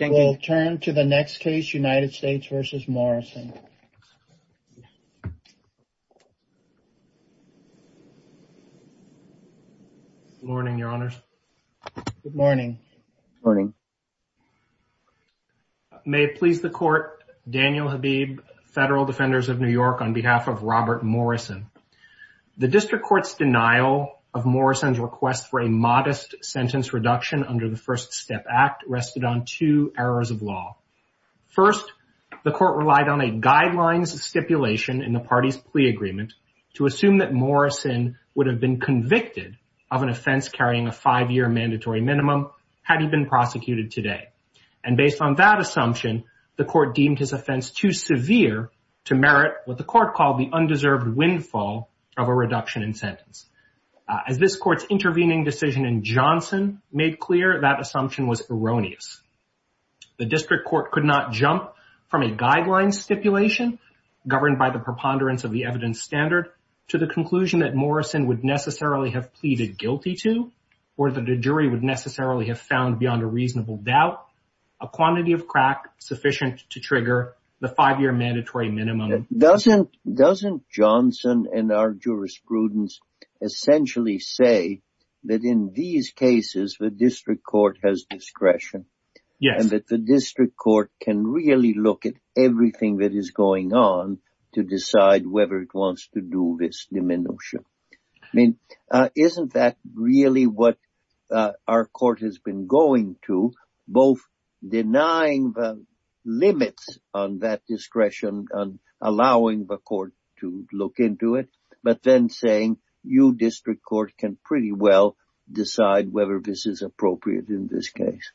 We'll turn to the next case, United States v. Morrison. Good morning, Your Honors. Good morning. Good morning. May it please the Court, Daniel Habib, Federal Defenders of New York, on behalf of Robert Morrison. The District Court's denial of Morrison's request for a modest sentence reduction under the First Step Act rested on two errors of law. First, the Court relied on a guidelines stipulation in the party's plea agreement to assume that Morrison would have been convicted of an offense carrying a five-year mandatory minimum had he been prosecuted today. And based on that assumption, the Court deemed his offense too severe to merit what the Court called the undeserved windfall of a reduction in sentence. As this Court's intervening decision in Johnson made clear, that assumption was erroneous. The District Court could not jump from a guidelines stipulation, governed by the preponderance of the evidence standard, to the conclusion that Morrison would necessarily have pleaded guilty to, or that a jury would necessarily have found beyond a reasonable doubt, a quantity of crack sufficient to trigger the five-year mandatory minimum. Doesn't Johnson and our jurisprudence essentially say that in these cases the District Court has discretion? Yes. And that the District Court can really look at everything that is going on to decide whether it wants to do this diminution? I mean, isn't that really what our Court has been going to, both denying the limits on that discretion and allowing the Court to look into it, but then saying, you, District Court, can pretty well decide whether this is appropriate in this case?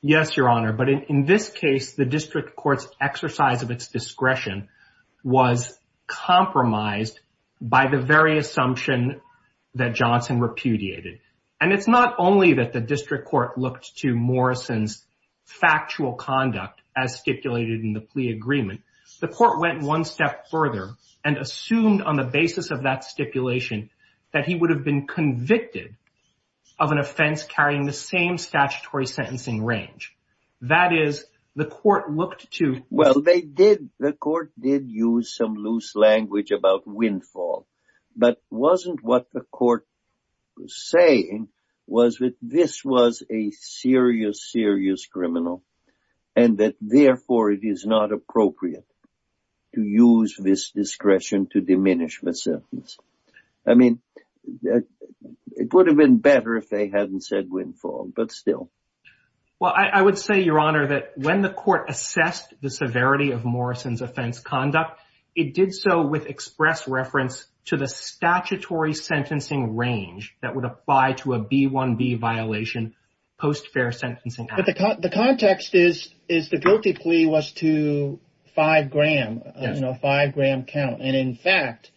Yes, Your Honor. But in this case, the District Court's exercise of its discretion was compromised by the very assumption that Johnson repudiated. And it's not only that the District Court looked to Morrison's factual conduct as stipulated in the plea agreement. The Court went one step further and assumed on the basis of that stipulation that he would have been convicted of an offense carrying the same statutory sentencing range. That is, the Court looked to… was that this was a serious, serious criminal and that, therefore, it is not appropriate to use this discretion to diminish the sentence. I mean, it would have been better if they hadn't said Windfall, but still. Well, I would say, Your Honor, that when the Court assessed the severity of Morrison's offense conduct, it did so with express reference to the statutory sentencing range that would apply to a B-1-B violation post-fair sentencing. But the context is the guilty plea was to five-gram count. And in fact,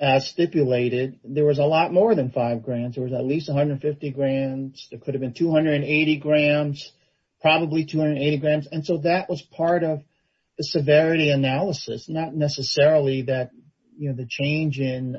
as stipulated, there was a lot more than five grams. There was at least 150 grams. There could have been 280 grams, probably 280 grams. And so that was part of the severity analysis, not necessarily the change in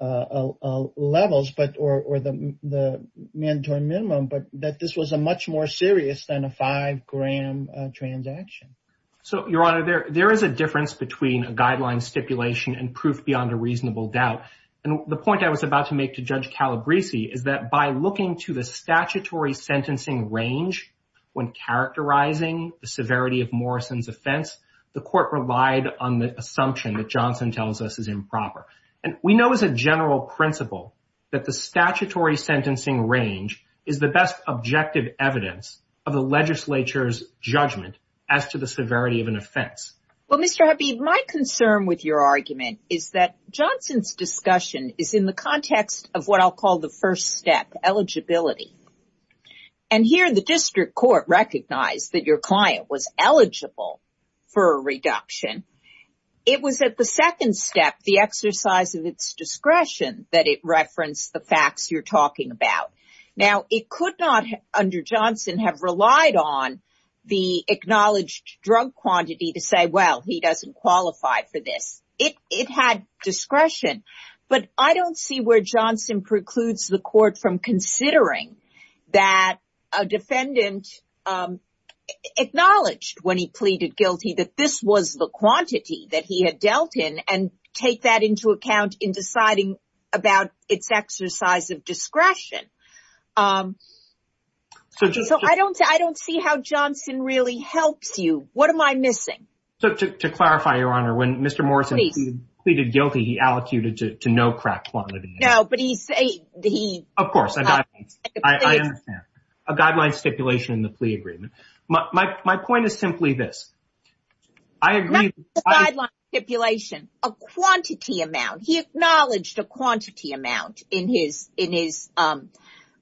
levels or the mandatory minimum, but that this was a much more serious than a five-gram transaction. So, Your Honor, there is a difference between a guideline stipulation and proof beyond a reasonable doubt. And the point I was about to make to Judge Calabresi is that by looking to the statutory sentencing range when characterizing the severity of Morrison's offense, the Court relied on the assumption that Johnson tells us is improper. And we know as a general principle that the statutory sentencing range is the best objective evidence of the legislature's judgment as to the severity of an offense. Well, Mr. Habib, my concern with your argument is that Johnson's discussion is in the context of what I'll call the first step, eligibility. And here the district court recognized that your client was eligible for a reduction. It was at the second step, the exercise of its discretion, that it referenced the facts you're talking about. Now, it could not, under Johnson, have relied on the acknowledged drug quantity to say, well, he doesn't qualify for this. It had discretion. But I don't see where Johnson precludes the Court from considering that a defendant acknowledged when he pleaded guilty that this was the quantity that he had dealt in and take that into account in deciding about its exercise of discretion. So, I don't see how Johnson really helps you. What am I missing? So, to clarify, Your Honor, when Mr. Morrison pleaded guilty, he allocated to no crack quantity. No, but he said he... Of course, I understand. A guideline stipulation in the plea agreement. My point is simply this. Not the guideline stipulation. A quantity amount. He acknowledged a quantity amount in his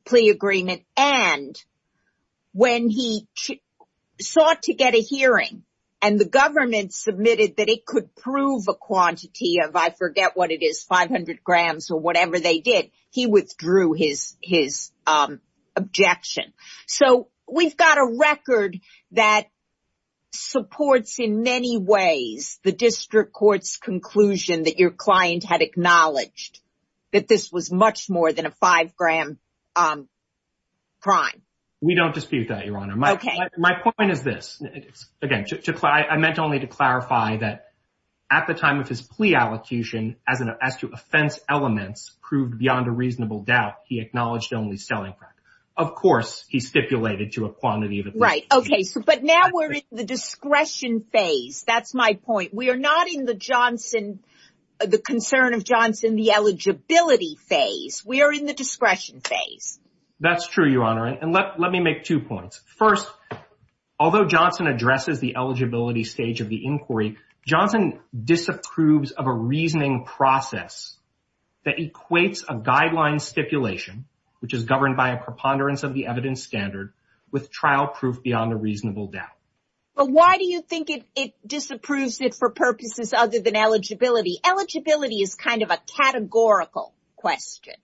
plea agreement. And when he sought to get a hearing and the government submitted that it could prove a quantity of, I forget what it is, 500 grams or whatever they did, he withdrew his objection. So, we've got a record that supports in many ways the District Court's conclusion that your client had acknowledged that this was much more than a 5-gram crime. We don't dispute that, Your Honor. My point is this. Again, I meant only to clarify that at the time of his plea allocation, as to offense elements proved beyond a reasonable doubt, he acknowledged only selling crack. Of course, he stipulated to a quantity of... Right. Okay. But now we're in the discretion phase. That's my point. We are not in the Johnson, the concern of Johnson, the eligibility phase. We are in the discretion phase. That's true, Your Honor. And let me make two points. First, although Johnson addresses the eligibility stage of the inquiry, Johnson disapproves of a reasoning process that equates a guideline stipulation, which is governed by a preponderance of the evidence standard, with trial proof beyond a reasonable doubt. But why do you think it disapproves it for purposes other than eligibility? Eligibility is kind of a categorical question.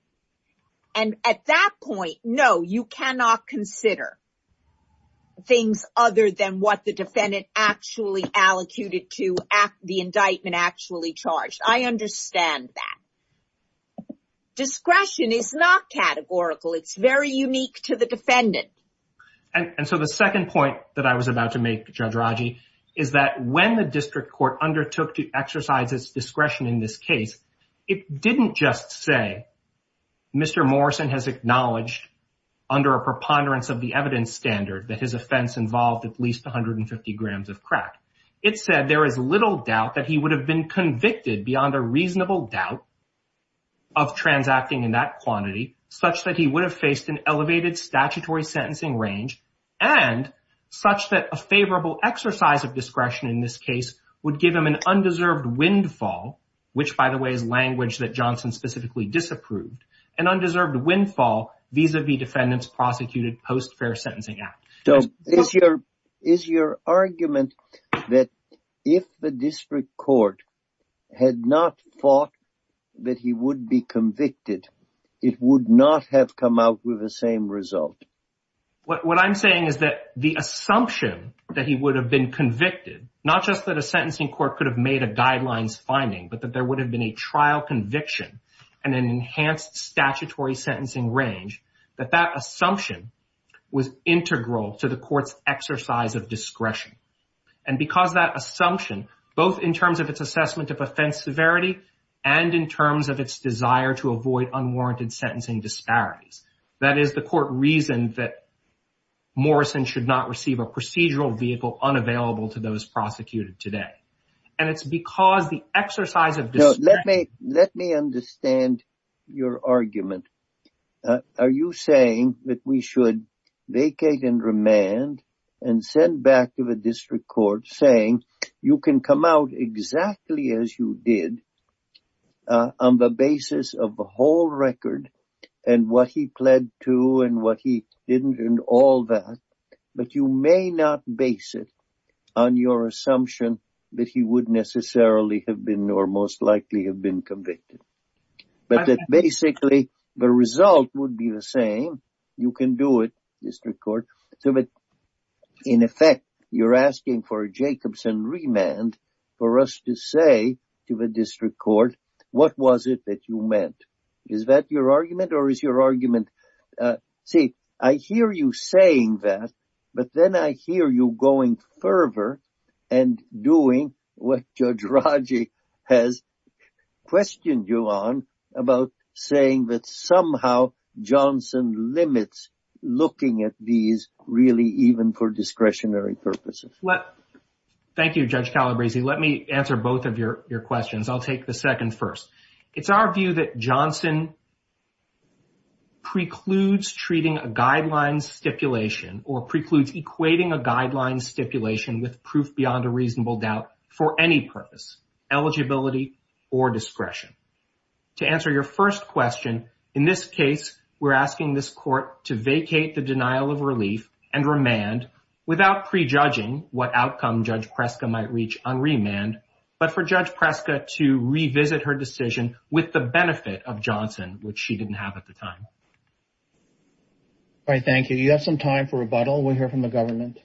And at that point, no, you cannot consider things other than what the defendant actually allocated to the indictment actually charged. I understand that. Discretion is not categorical. And so the second point that I was about to make, Judge Raji, is that when the district court undertook to exercise its discretion in this case, it didn't just say, Mr. Morrison has acknowledged under a preponderance of the evidence standard that his offense involved at least 150 grams of crack. It said there is little doubt that he would have been convicted beyond a reasonable doubt of transacting in that quantity, such that he would have faced an elevated statutory sentencing range, and such that a favorable exercise of discretion in this case would give him an undeserved windfall, which, by the way, is language that Johnson specifically disapproved, an undeserved windfall vis-a-vis defendant's prosecuted post-fair sentencing act. So is your argument that if the district court had not thought that he would be convicted, it would not have come out with the same result? What I'm saying is that the assumption that he would have been convicted, not just that a sentencing court could have made a guidelines finding, but that there would have been a trial conviction and an enhanced statutory sentencing range, that that assumption was integral to the court's exercise of discretion. And because that assumption, both in terms of its assessment of offense severity and in terms of its desire to avoid unwarranted sentencing disparities, that is, the court reasoned that Morrison should not receive a procedural vehicle unavailable to those prosecuted today. And it's because the exercise of discretion… Let me understand your argument. Are you saying that we should vacate and remand and send back to the district court saying you can come out exactly as you did on the basis of the whole record and what he pled to and what he didn't and all that, but you may not base it on your assumption that he would necessarily have been or most likely have been convicted? But that basically the result would be the same. You can do it, district court. In effect, you're asking for a Jacobson remand for us to say to the district court, what was it that you meant? Is that your argument or is your argument… See, I hear you saying that, but then I hear you going further and doing what Judge Raji has questioned you on about saying that somehow Johnson limits looking at these really even for discretionary purposes. Thank you, Judge Calabresi. Let me answer both of your questions. I'll take the second first. It's our view that Johnson precludes treating a guideline stipulation or precludes equating a guideline stipulation with proof beyond a reasonable doubt for any purpose, eligibility or discretion. To answer your first question, in this case, we're asking this court to vacate the denial of relief and remand without prejudging what outcome Judge Preska might reach on remand, but for Judge Preska to revisit her decision with the benefit of Johnson, which she didn't have at the time. All right, thank you. You have some time for rebuttal. We'll hear from the government.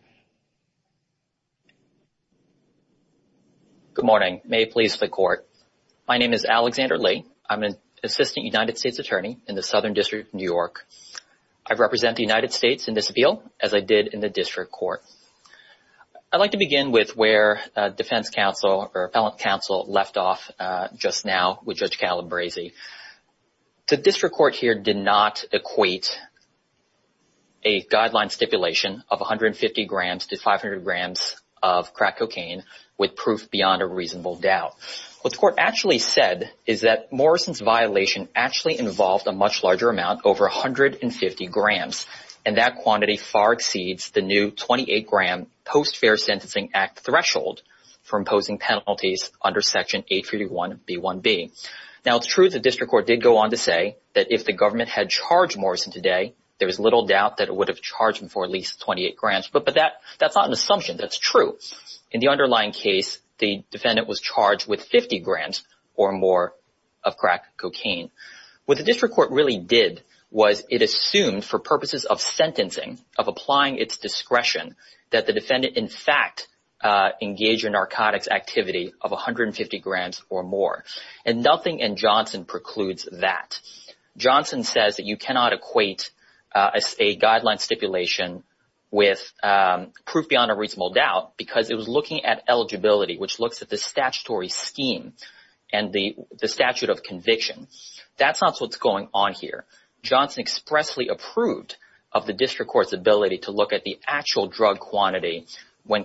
Good morning. May it please the court. My name is Alexander Lee. I'm an assistant United States attorney in the Southern District of New York. I represent the United States in this appeal as I did in the district court. I'd like to begin with where defense counsel or appellate counsel left off just now with Judge Calabresi. The district court here did not equate a guideline stipulation of 150 grams to 500 grams of crack cocaine with proof beyond a reasonable doubt. What the court actually said is that Morrison's violation actually involved a much larger amount, over 150 grams, and that quantity far exceeds the new 28-gram Post-Fair Sentencing Act threshold for imposing penalties under Section 851b1b. Now, it's true the district court did go on to say that if the government had charged Morrison today, there was little doubt that it would have charged him for at least 28 grams, but that's not an assumption. That's true. In the underlying case, the defendant was charged with 50 grams or more of crack cocaine. What the district court really did was it assumed for purposes of sentencing, of applying its discretion, that the defendant in fact engaged in narcotics activity of 150 grams or more. And nothing in Johnson precludes that. Johnson says that you cannot equate a guideline stipulation with proof beyond a reasonable doubt because it was looking at eligibility, which looks at the statutory scheme and the statute of conviction. That's not what's going on here. Johnson expressly approved of the district court's ability to look at the actual drug quantity when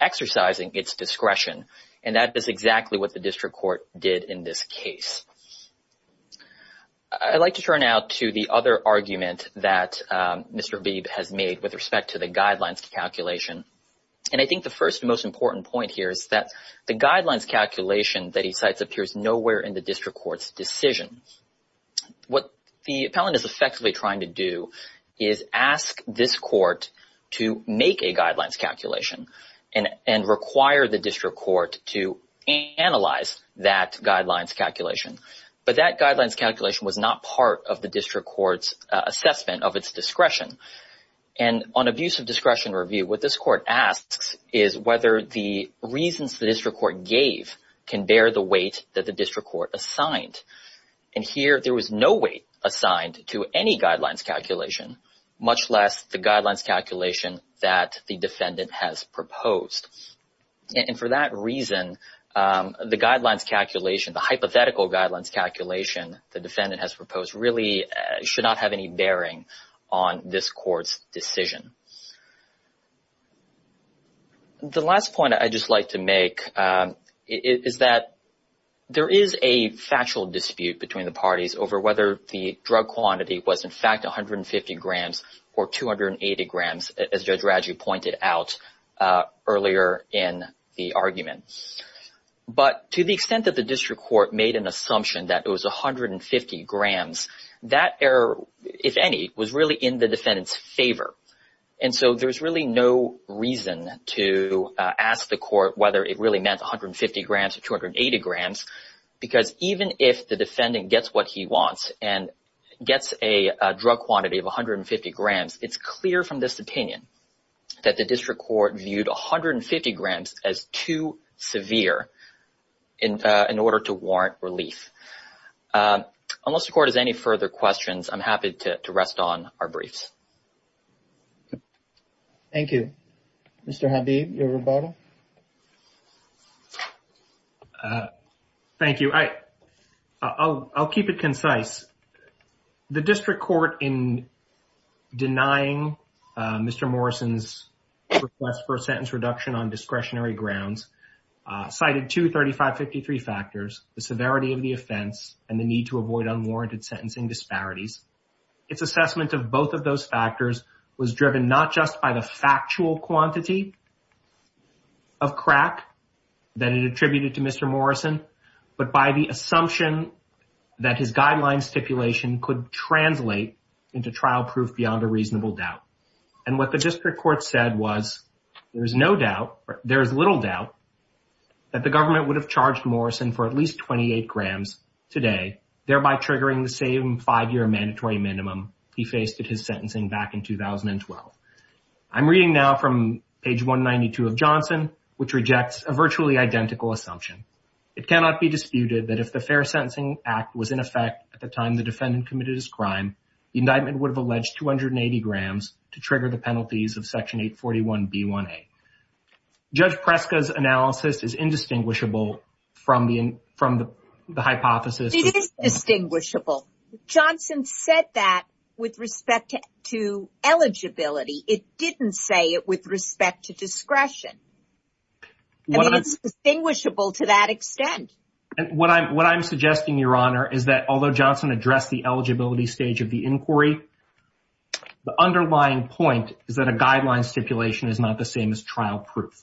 exercising its discretion, and that is exactly what the district court did in this case. I'd like to turn now to the other argument that Mr. Beebe has made with respect to the guidelines calculation. And I think the first and most important point here is that the guidelines calculation that he cites appears nowhere in the district court's decision. What the appellant is effectively trying to do is ask this court to make a guidelines calculation and require the district court to analyze that guidelines calculation. But that guidelines calculation was not part of the district court's assessment of its discretion. And on abuse of discretion review, what this court asks is whether the reasons the district court gave can bear the weight that the district court assigned. And here there was no weight assigned to any guidelines calculation, much less the guidelines calculation that the defendant has proposed. And for that reason, the guidelines calculation, the hypothetical guidelines calculation the defendant has proposed really should not have any bearing on this court's decision. The last point I'd just like to make is that there is a factual dispute between the parties over whether the drug quantity was in fact 150 grams or 280 grams, as Judge Radju pointed out earlier in the argument. But to the extent that the district court made an assumption that it was 150 grams, that error, if any, was really in the defendant's favor. And so there's really no reason to ask the court whether it really meant 150 grams or 280 grams, because even if the defendant gets what he wants and gets a drug quantity of 150 grams, it's clear from this opinion that the district court viewed 150 grams as too severe in order to warrant relief. Unless the court has any further questions, I'm happy to rest on our briefs. Thank you. Mr. Habib, your rebuttal. Thank you. I'll keep it concise. The district court, in denying Mr. Morrison's request for a sentence reduction on discretionary grounds, cited two 3553 factors, the severity of the offense and the need to avoid unwarranted sentencing disparities. Its assessment of both of those factors was driven not just by the factual quantity of crack that it attributed to Mr. Morrison, but by the assumption that his guideline stipulation could translate into trial proof beyond a reasonable doubt. And what the district court said was, there is little doubt that the government would have charged Morrison for at least 28 grams today, thereby triggering the same five-year mandatory minimum he faced at his sentencing back in 2012. I'm reading now from page 192 of Johnson, which rejects a virtually identical assumption. It cannot be disputed that if the Fair Sentencing Act was in effect at the time the defendant committed his crime, the indictment would have alleged 280 grams to trigger the penalties of Section 841B1A. Judge Preska's analysis is indistinguishable from the hypothesis. It is distinguishable. Johnson said that with respect to eligibility. It didn't say it with respect to discretion. I mean, it's distinguishable to that extent. What I'm suggesting, Your Honor, is that although Johnson addressed the eligibility stage of the inquiry, the underlying point is that a guideline stipulation is not the same as trial proof.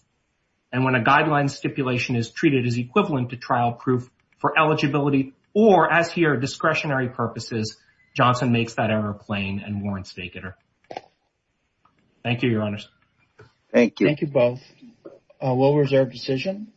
And when a guideline stipulation is treated as equivalent to trial proof for eligibility or, as here, discretionary purposes, Johnson makes that error plain and warrants vacater. Thank you, Your Honors. Thank you. Thank you both. We'll reserve decision.